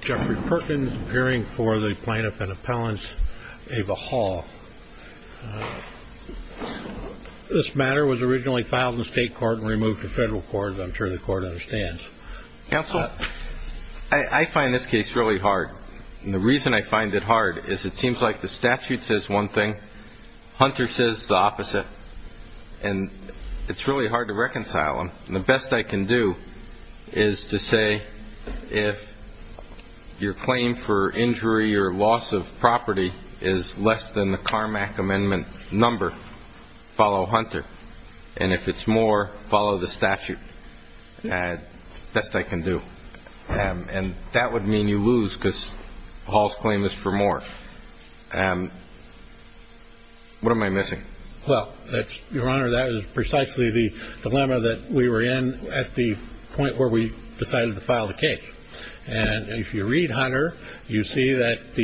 Jeffrey Perkins appearing for the plaintiff and appellant's Ava Hall. This matter was originally filed in state court and removed to federal court, as I'm sure the court understands. Counsel, I find this case really hard. And the reason I find it hard is it seems like the statute says one thing, Hunter says the opposite. And it's really hard to reconcile them. The best I can do is to say if your claim for injury or loss of property is less than the Carmack Amendment number, follow Hunter. And if it's more, follow the statute. That's the best I can do. And that would mean you lose because Hall's claim is for more. What am I missing? Well, Your Honor, that is precisely the dilemma that we were in at the point where we decided to file the case. And if you read Hunter, you see that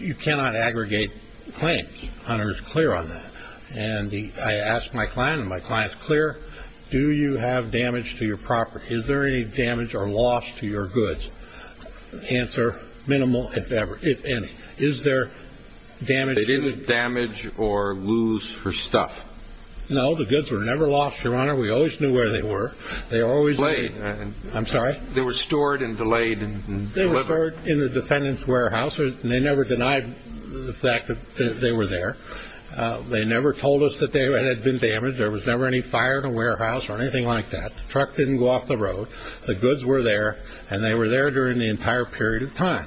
you cannot aggregate claims. Hunter is clear on that. And I asked my client, and my client's clear. Do you have damage to your property? Is there any damage or loss to your goods? Answer, minimal, if any. Is there damage? They didn't damage or lose her stuff. No, the goods were never lost, Your Honor. We always knew where they were. They always were. I'm sorry. They were stored and delayed and delivered. They were stored in the defendant's warehouse. And they never denied the fact that they were there. They never told us that they had been damaged. There was never any fire in the warehouse or anything like that. The truck didn't go off the road. The goods were there. And they were there during the entire period of time.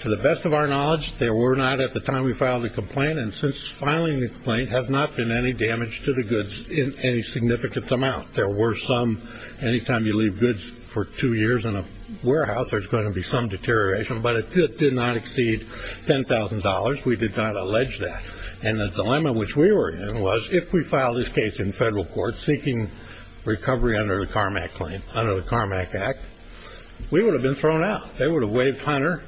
To the best of our knowledge, there were not at the time we filed the complaint. And since filing the complaint, there has not been any damage to the goods in any significant amount. There were some. Any time you leave goods for two years in a warehouse, there's going to be some deterioration. But it did not exceed $10,000. We did not allege that. And the dilemma which we were in was if we filed this case in federal court seeking recovery under the CARMAC claim, under the CARMAC Act, we would have been thrown out. They would have waved Hunter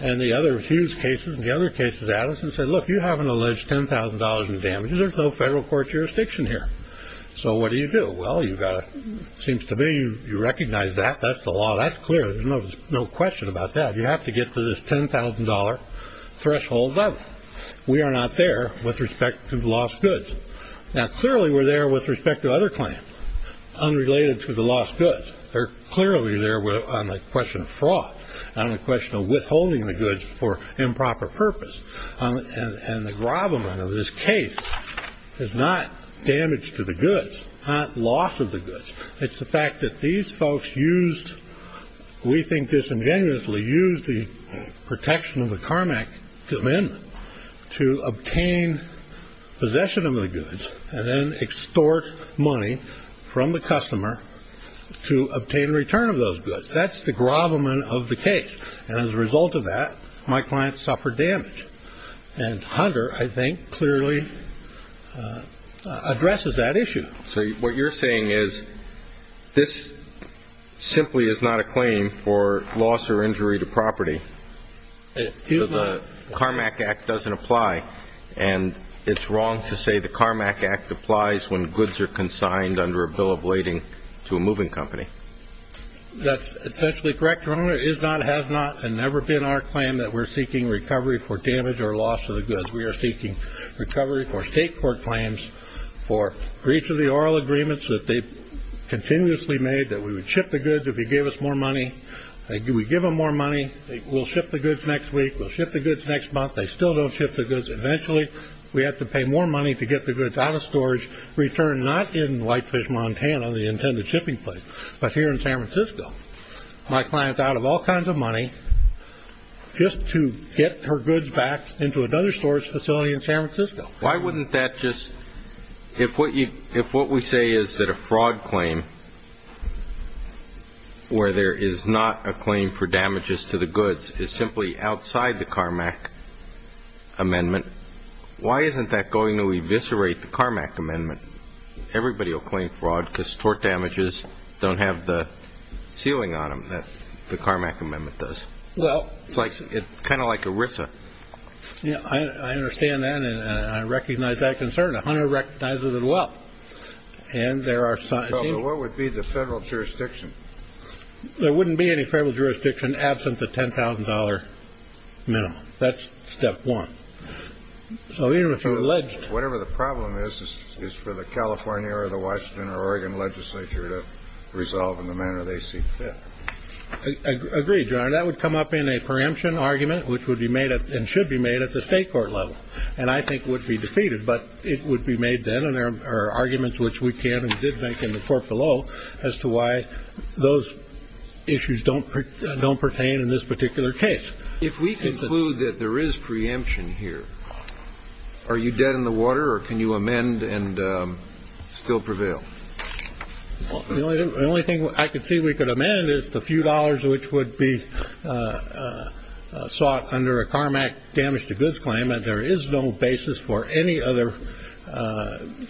and the other Hughes cases and the other cases at us and said, Look, you haven't alleged $10,000 in damages. There's no federal court jurisdiction here. So what do you do? Well, you've got to, it seems to me, you recognize that. That's the law. That's clear. There's no question about that. You have to get to this $10,000 threshold level. We are not there with respect to the lost goods. Now, clearly, we're there with respect to other claims unrelated to the lost goods. They're clearly there on the question of fraud, on the question of withholding the goods for improper purpose. And the gravamen of this case is not damage to the goods, not loss of the goods. It's the fact that these folks used, we think disingenuously, used the protection of the CARMAC amendment to obtain possession of the goods and then extort money from the customer to obtain return of those goods. That's the gravamen of the case. And as a result of that, my client suffered damage. And Hunter, I think, clearly addresses that issue. So what you're saying is this simply is not a claim for loss or injury to property. The CARMAC Act doesn't apply. And it's wrong to say the CARMAC Act applies when goods are consigned under a bill of lading to a moving company. That's essentially correct, Your Honor. It is not, has not, and never been our claim that we're seeking recovery for damage or loss to the goods. We are seeking recovery for state court claims for breach of the oral agreements that they've continuously made, that we would ship the goods if you gave us more money. We give them more money. We'll ship the goods next week. We'll ship the goods next month. They still don't ship the goods eventually. We have to pay more money to get the goods out of storage, returned not in Whitefish, Montana, the intended shipping place, but here in San Francisco. My client's out of all kinds of money just to get her goods back into another storage facility in San Francisco. Why wouldn't that just, if what we say is that a fraud claim, where there is not a claim for damages to the goods, is simply outside the CARMAC amendment, why isn't that going to eviscerate the CARMAC amendment? Everybody will claim fraud because tort damages don't have the sealing on them that the CARMAC amendment does. It's kind of like ERISA. I understand that, and I recognize that concern. Hunter recognizes it as well. What would be the federal jurisdiction? There wouldn't be any federal jurisdiction absent the $10,000 minimum. That's step one. Whatever the problem is, it's for the California or the Washington or Oregon legislature to resolve in the manner they see fit. Agreed, Your Honor. That would come up in a preemption argument, which would be made and should be made at the state court level, and I think would be defeated, but it would be made then, and there are arguments which we can and did make in the court below as to why those issues don't pertain in this particular case. If we conclude that there is preemption here, are you dead in the water or can you amend and still prevail? The only thing I can see we could amend is the few dollars which would be sought under a CARMAC damage to goods claim, and there is no basis for any other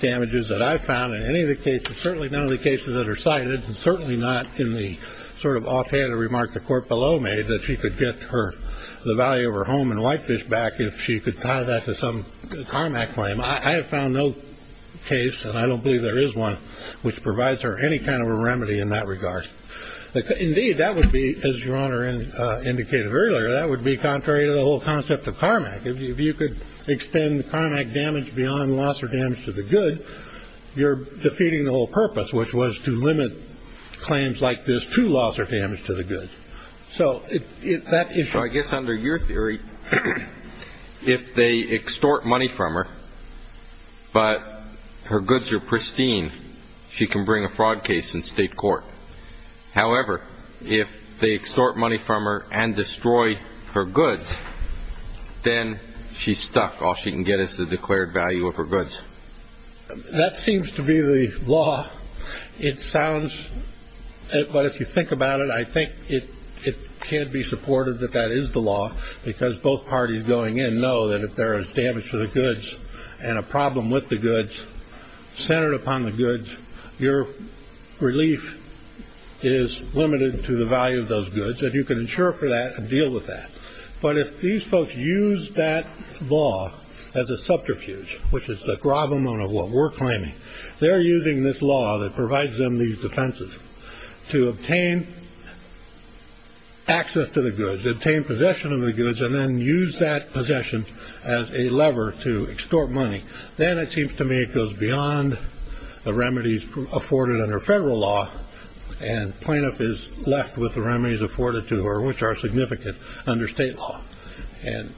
damages that I've found in any of the cases, certainly none of the cases that are cited, and certainly not in the sort of offhanded remark the court below made that she could get the value of her home and Whitefish back if she could tie that to some CARMAC claim. I have found no case, and I don't believe there is one, which provides her any kind of a remedy in that regard. Indeed, that would be, as Your Honor indicated earlier, that would be contrary to the whole concept of CARMAC. If you could extend CARMAC damage beyond loss or damage to the good, you're defeating the whole purpose, which was to limit claims like this to loss or damage to the good. So I guess under your theory, if they extort money from her but her goods are pristine, she can bring a fraud case in state court. However, if they extort money from her and destroy her goods, then she's stuck. All she can get is the declared value of her goods. That seems to be the law. But if you think about it, I think it can be supported that that is the law, because both parties going in know that if there is damage to the goods and a problem with the goods centered upon the goods, your relief is limited to the value of those goods, and you can insure for that and deal with that. But if these folks use that law as a subterfuge, which is the gravamone of what we're claiming, they're using this law that provides them these defenses to obtain access to the goods, obtain possession of the goods, and then use that possession as a lever to extort money. Then it seems to me it goes beyond the remedies afforded under federal law, and plaintiff is left with the remedies afforded to her, which are significant under state law. And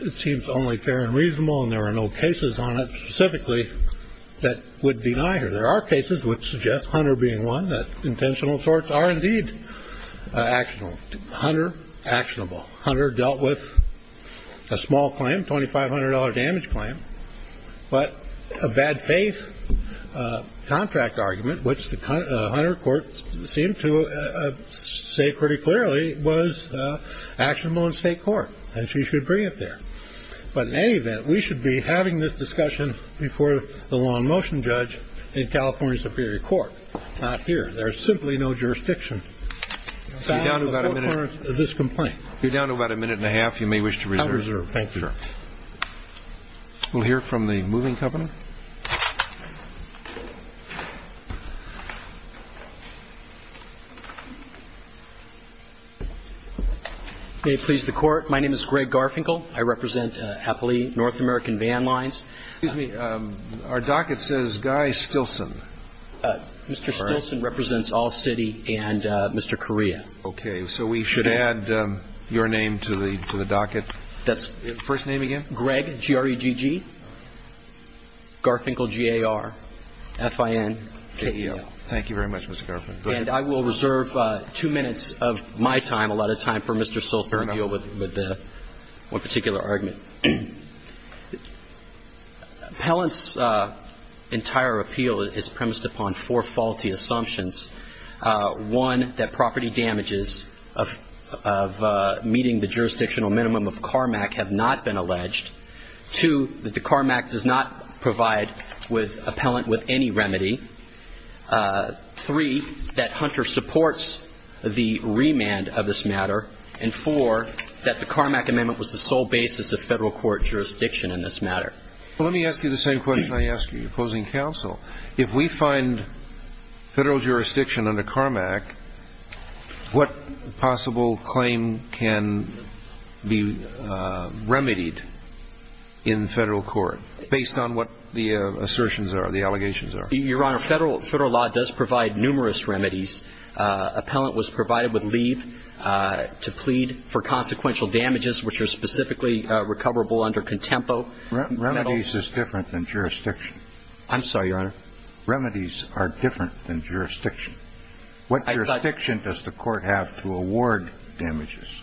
it seems only fair and reasonable, and there are no cases on it specifically that would deny her. There are cases which suggest, Hunter being one, that intentional assorts are indeed actionable. Hunter, actionable. Hunter dealt with a small claim, $2,500 damage claim, but a bad faith contract argument, which the Hunter court seemed to say pretty clearly was actionable in state court, and she should bring it there. But in any event, we should be having this discussion before the law in motion judge in California Superior Court, not here. There is simply no jurisdiction. We're down to about a minute. You're down to about a minute and a half. You may wish to reserve. I'll reserve. Thank you. We'll hear from the moving company. May it please the Court. My name is Greg Garfinkel. I represent Happily North American Van Lines. Excuse me. Our docket says Guy Stilson. Mr. Stilson represents All-City and Mr. Correa. Okay. So we should add your name to the docket. First name again? Greg, G-R-E-G-G, Garfinkel, G-A-R-F-I-N-K-E-L. Thank you very much, Mr. Garfinkel. And I will reserve two minutes of my time, a lot of time for Mr. Stilson to deal with one particular argument. Appellant's entire appeal is premised upon four faulty assumptions. One, that property damages of meeting the jurisdictional minimum of CARMAC have not been alleged. Two, that the CARMAC does not provide appellant with any remedy. Three, that Hunter supports the remand of this matter. And four, that the CARMAC amendment was the sole basis of Federal court jurisdiction in this matter. Let me ask you the same question I asked you opposing counsel. If we find Federal jurisdiction under CARMAC, what possible claim can be remedied in Federal court, based on what the assertions are, the allegations are? Your Honor, Federal law does provide numerous remedies. Appellant was provided with leave to plead for consequential damages, which are specifically recoverable under contempo. Remedies is different than jurisdiction. I'm sorry, Your Honor. Remedies are different than jurisdiction. What jurisdiction does the court have to award damages?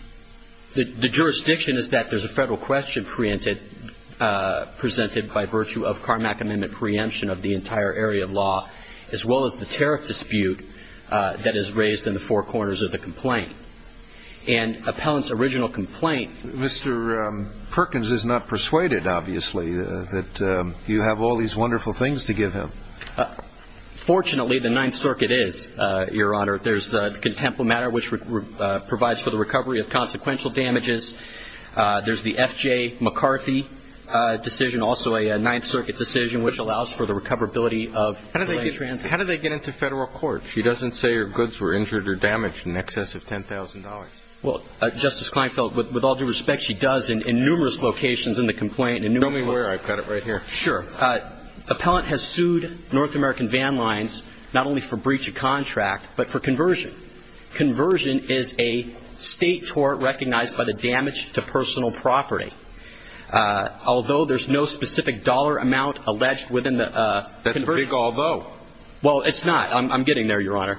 The jurisdiction is that there's a Federal question preempted, presented by virtue of CARMAC amendment preemption of the entire area of law, as well as the tariff dispute that is raised in the four corners of the complaint. And appellant's original complaint. Mr. Perkins is not persuaded, obviously, that you have all these wonderful things to give him. Fortunately, the Ninth Circuit is, Your Honor. There's the contempo matter, which provides for the recovery of consequential damages. There's the F.J. McCarthy decision, also a Ninth Circuit decision, which allows for the recoverability of delaying transactions. How did they get into Federal court? She doesn't say her goods were injured or damaged in excess of $10,000. Well, Justice Kleinfeld, with all due respect, she does in numerous locations in the complaint. Show me where. I've got it right here. Sure. Appellant has sued North American Van Lines not only for breach of contract, but for conversion. Conversion is a state tort recognized by the damage to personal property. Although there's no specific dollar amount alleged within the conversion. That's a big although. Well, it's not. I'm getting there, Your Honor.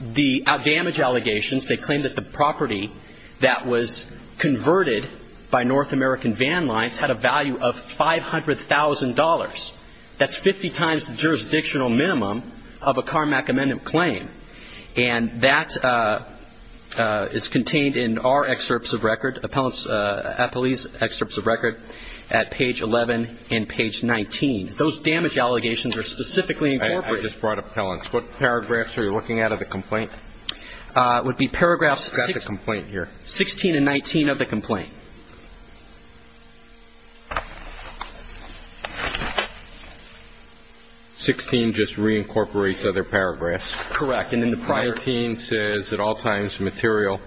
The damage allegations, they claim that the property that was converted by North American Van Lines had a value of $500,000. That's 50 times the jurisdictional minimum of a Carmack amendment claim. And that is contained in our excerpts of record, appellate's excerpts of record at page 11 and page 19. Those damage allegations are specifically incorporated. I just brought appellants. What paragraphs are you looking at of the complaint? It would be paragraphs 16 and 19 of the complaint. 16 just reincorporates other paragraphs. Correct. And then the prior. 19 says at all times material,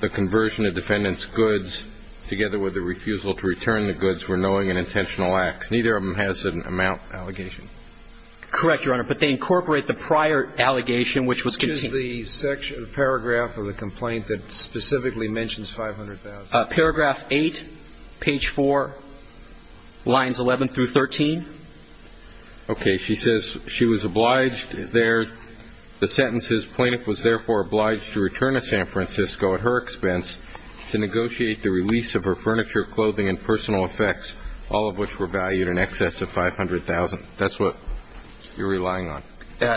the conversion of defendant's goods together with the refusal to return the goods were knowing and intentional acts. Neither of them has an amount allegation. Correct, Your Honor. But they incorporate the prior allegation, which was the section of the paragraph of the complaint that specifically mentions 500,000. Paragraph eight, page four, lines 11 through 13. Okay. She says she was obliged there. The sentence is plaintiff was therefore obliged to return to San Francisco at her expense to negotiate the release of her furniture, clothing and personal effects. All of which were valued in excess of 500,000. That's what you're relying on.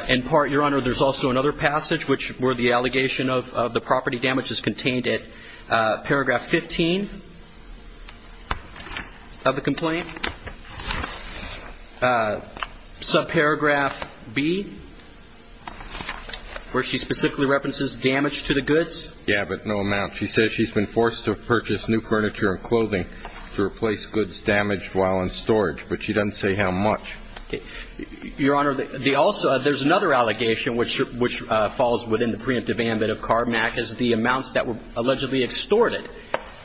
In part, Your Honor, there's also another passage, which were the allegation of the property damages contained at paragraph 15 of the complaint. Subparagraph B, where she specifically references damage to the goods. Yeah, but no amount. She says she's been forced to purchase new furniture and clothing to replace goods damaged while in storage. But she doesn't say how much. Your Honor, there's another allegation, which falls within the preemptive amendment of Carmack, is the amounts that were allegedly extorted.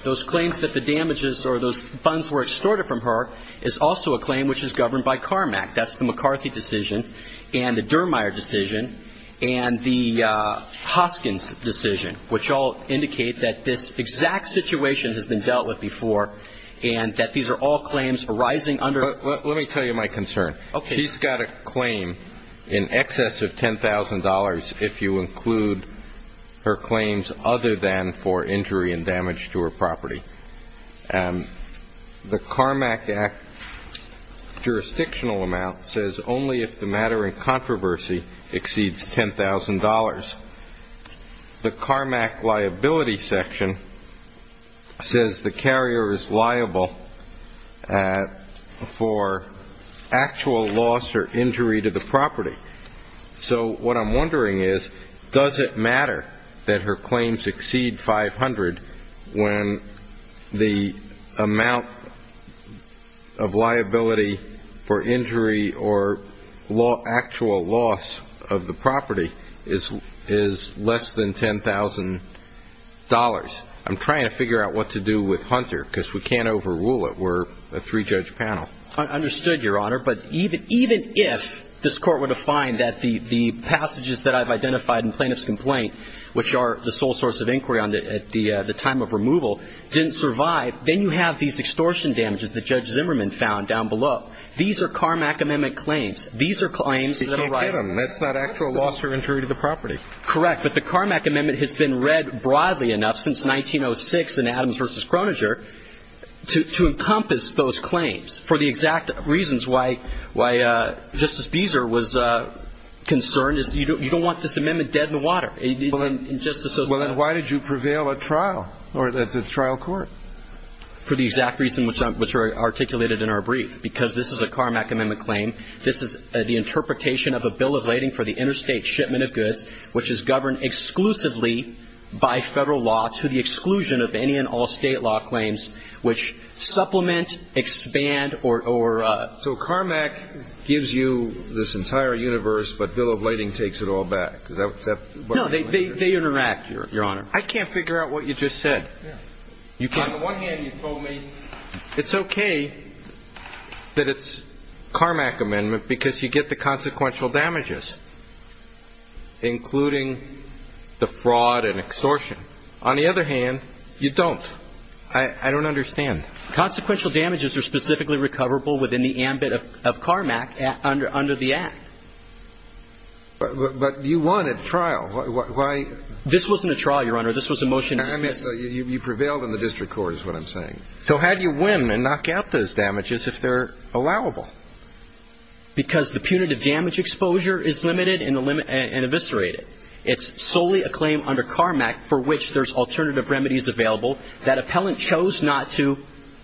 Those claims that the damages or those funds were extorted from her is also a claim which is governed by Carmack. That's the McCarthy decision and the Dermier decision and the Hoskins decision, which all indicate that this exact situation has been dealt with before and that these are all claims arising under. Let me tell you my concern. Okay. She's got a claim in excess of $10,000 if you include her claims other than for injury and damage to her property. The Carmack Act jurisdictional amount says only if the matter in controversy exceeds $10,000. The Carmack liability section says the carrier is liable for actual loss or injury to the property. So what I'm wondering is, does it matter that her claims exceed $500 when the amount of liability for injury or actual loss of the property is less than $10,000? I'm trying to figure out what to do with Hunter because we can't overrule it. We're a three-judge panel. Understood, Your Honor. But even if this Court were to find that the passages that I've identified in plaintiff's complaint, which are the sole source of inquiry at the time of removal, didn't survive, then you have these extortion damages that Judge Zimmerman found down below. These are Carmack Amendment claims. These are claims that arise. She can't get them. That's not actual loss or injury to the property. Correct. But the Carmack Amendment has been read broadly enough since 1906 in Adams v. Croninger to encompass those claims for the exact reasons why Justice Beezer was concerned. You don't want this amendment dead in the water. Well, then why did you prevail at trial or at the trial court? For the exact reason which are articulated in our brief, because this is a Carmack Amendment claim. This is the interpretation of a bill of lading for the interstate shipment of goods, which is governed exclusively by federal law to the exclusion of any and all state law claims, which supplement, expand, or ---- So Carmack gives you this entire universe, but bill of lading takes it all back. Is that what you're saying? No, they interact, Your Honor. I can't figure out what you just said. On the one hand, you told me it's okay that it's Carmack Amendment. Because you get the consequential damages, including the fraud and extortion. On the other hand, you don't. I don't understand. Consequential damages are specifically recoverable within the ambit of Carmack under the Act. But you won at trial. Why ---- This wasn't a trial, Your Honor. This was a motion to dismiss. You prevailed in the district court is what I'm saying. So how do you win and knock out those damages if they're allowable? Because the punitive damage exposure is limited and eviscerated. It's solely a claim under Carmack for which there's alternative remedies available that appellant chose not to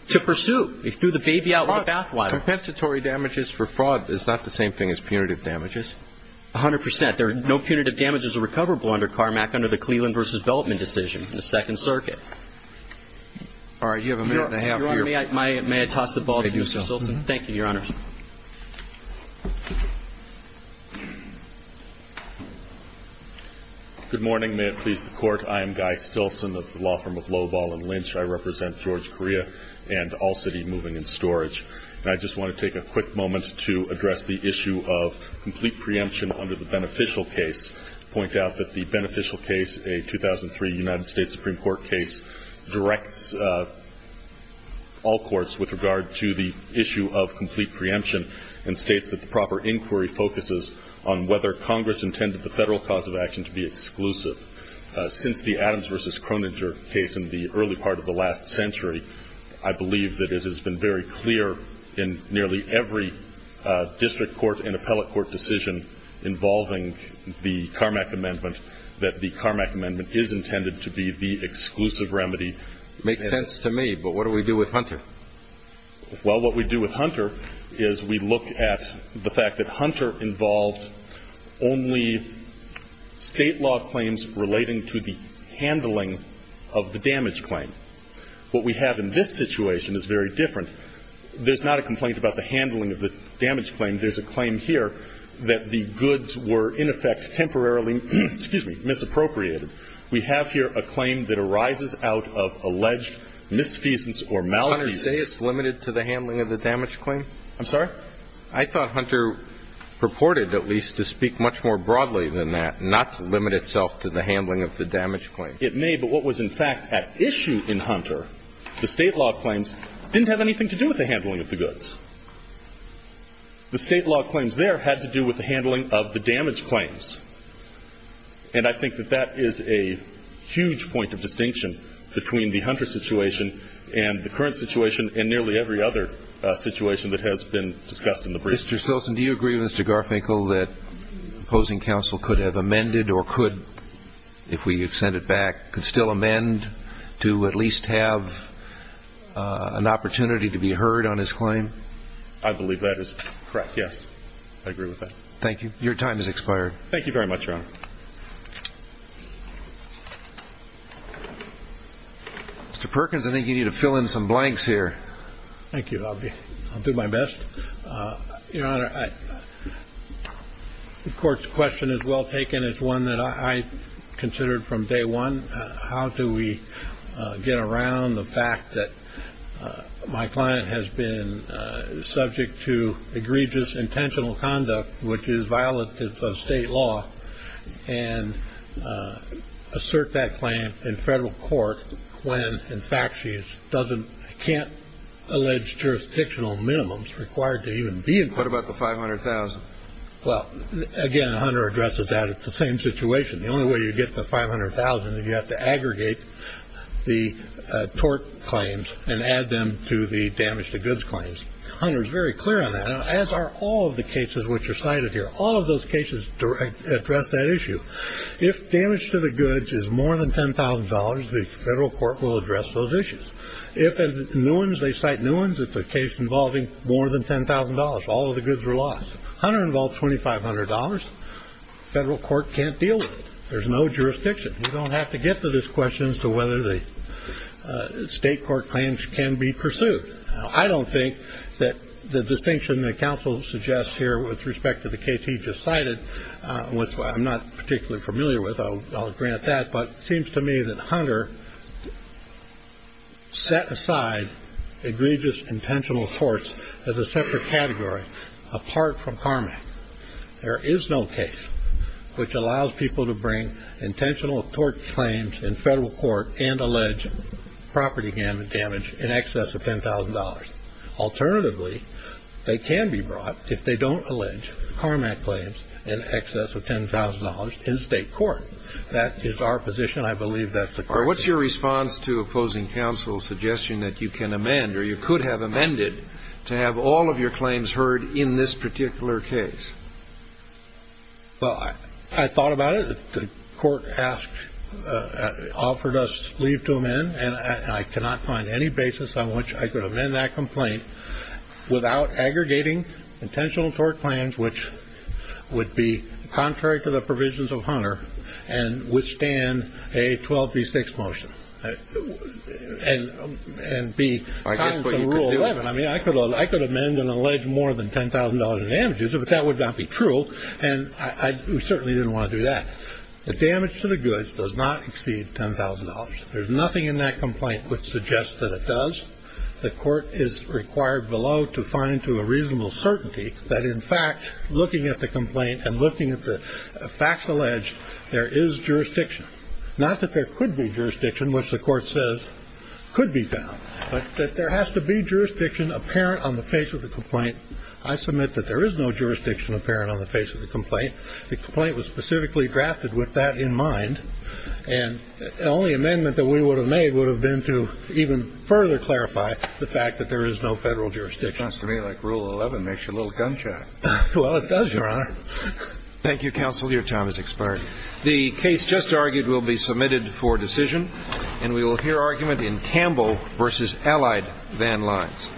pursue. He threw the baby out with a bathwater. Compensatory damages for fraud is not the same thing as punitive damages? A hundred percent. No punitive damages are recoverable under Carmack under the Cleveland v. Beltman decision in the Second Circuit. All right. You have a minute and a half. Your Honor, may I toss the ball to Mr. Stilson? Thank you, Your Honor. Good morning. May it please the Court. I am Guy Stilson of the law firm of Loball & Lynch. I represent George Korea and All City Moving and Storage. And I just want to take a quick moment to address the issue of complete preemption under the beneficial case, point out that the beneficial case, a 2003 United States Supreme Court case, directs all courts with regard to the issue of complete preemption and states that the proper inquiry focuses on whether Congress intended the federal cause of action to be exclusive. Since the Adams v. Croninger case in the early part of the last century, I believe that it has been very clear in nearly every district court and appellate court decision involving the Carmack amendment that the Carmack amendment is intended to be the exclusive remedy. It makes sense to me, but what do we do with Hunter? Well, what we do with Hunter is we look at the fact that Hunter involved only state law claims relating to the handling of the damage claim. What we have in this situation is very different. There's not a complaint about the handling of the damage claim. There's a claim here that the goods were, in effect, temporarily, excuse me, misappropriated. We have here a claim that arises out of alleged misfeasance or maladies. Hunter say it's limited to the handling of the damage claim? I'm sorry? I thought Hunter purported at least to speak much more broadly than that, not to limit itself to the handling of the damage claim. It may, but what was in fact at issue in Hunter, the state law claims didn't have anything to do with the handling of the goods. The state law claims there had to do with the handling of the damage claims. And I think that that is a huge point of distinction between the Hunter situation and the current situation and nearly every other situation that has been discussed in the brief. Mr. Silson, do you agree with Mr. Garfinkel that opposing counsel could have amended or could, if we send it back, could still amend to at least have an opportunity to be heard on his claim? I believe that is correct, yes. I agree with that. Thank you. Your time has expired. Thank you very much, Your Honor. Mr. Perkins, I think you need to fill in some blanks here. Thank you. I'll do my best. Your Honor, the court's question is well taken. It's one that I considered from day one. How do we get around the fact that my client has been subject to egregious intentional conduct, which is violative of state law, and assert that claim in federal court when, in fact, she can't allege jurisdictional minimums required to even be in court? What about the $500,000? Well, again, Hunter addresses that. It's the same situation. The only way you get the $500,000 is you have to aggregate the tort claims and add them to the damage to goods claims. Hunter is very clear on that, as are all of the cases which are cited here. All of those cases address that issue. If damage to the goods is more than $10,000, the federal court will address those issues. If it's new ones, they cite new ones. If it's a case involving more than $10,000, all of the goods are lost. Hunter involves $2,500. Federal court can't deal with it. There's no jurisdiction. You don't have to get to this question as to whether the state court claims can be pursued. I don't think that the distinction that counsel suggests here with respect to the case he just cited, which I'm not particularly familiar with, I'll grant that, but it seems to me that Hunter set aside egregious intentional torts as a separate category apart from CARMAC. There is no case which allows people to bring intentional tort claims in federal court and allege property damage in excess of $10,000. Alternatively, they can be brought if they don't allege CARMAC claims in excess of $10,000 in state court. That is our position. I believe that's the correct answer. What's your response to opposing counsel's suggestion that you can amend or you could have amended to have all of your claims heard in this particular case? Well, I thought about it. The court asked, offered us leave to amend, and I cannot find any basis on which I could amend that complaint without aggregating intentional tort claims, which would be contrary to the provisions of Hunter and withstand a 1236 motion and be contrary to Rule 11. I mean, I could amend and allege more than $10,000 in damages, but that would not be true, and we certainly didn't want to do that. The damage to the goods does not exceed $10,000. There's nothing in that complaint which suggests that it does. The court is required below to find to a reasonable certainty that, in fact, looking at the complaint and looking at the facts alleged, there is jurisdiction. Not that there could be jurisdiction, which the court says could be found, but that there has to be jurisdiction apparent on the face of the complaint. I submit that there is no jurisdiction apparent on the face of the complaint. The complaint was specifically drafted with that in mind. And the only amendment that we would have made would have been to even further clarify the fact that there is no Federal jurisdiction. Sounds to me like Rule 11 makes you a little gun-shy. Well, it does, Your Honor. Thank you, counsel. Your time has expired. The case just argued will be submitted for decision, and we will hear argument in Campbell v. Allied Van Lines. Thank you, counsel.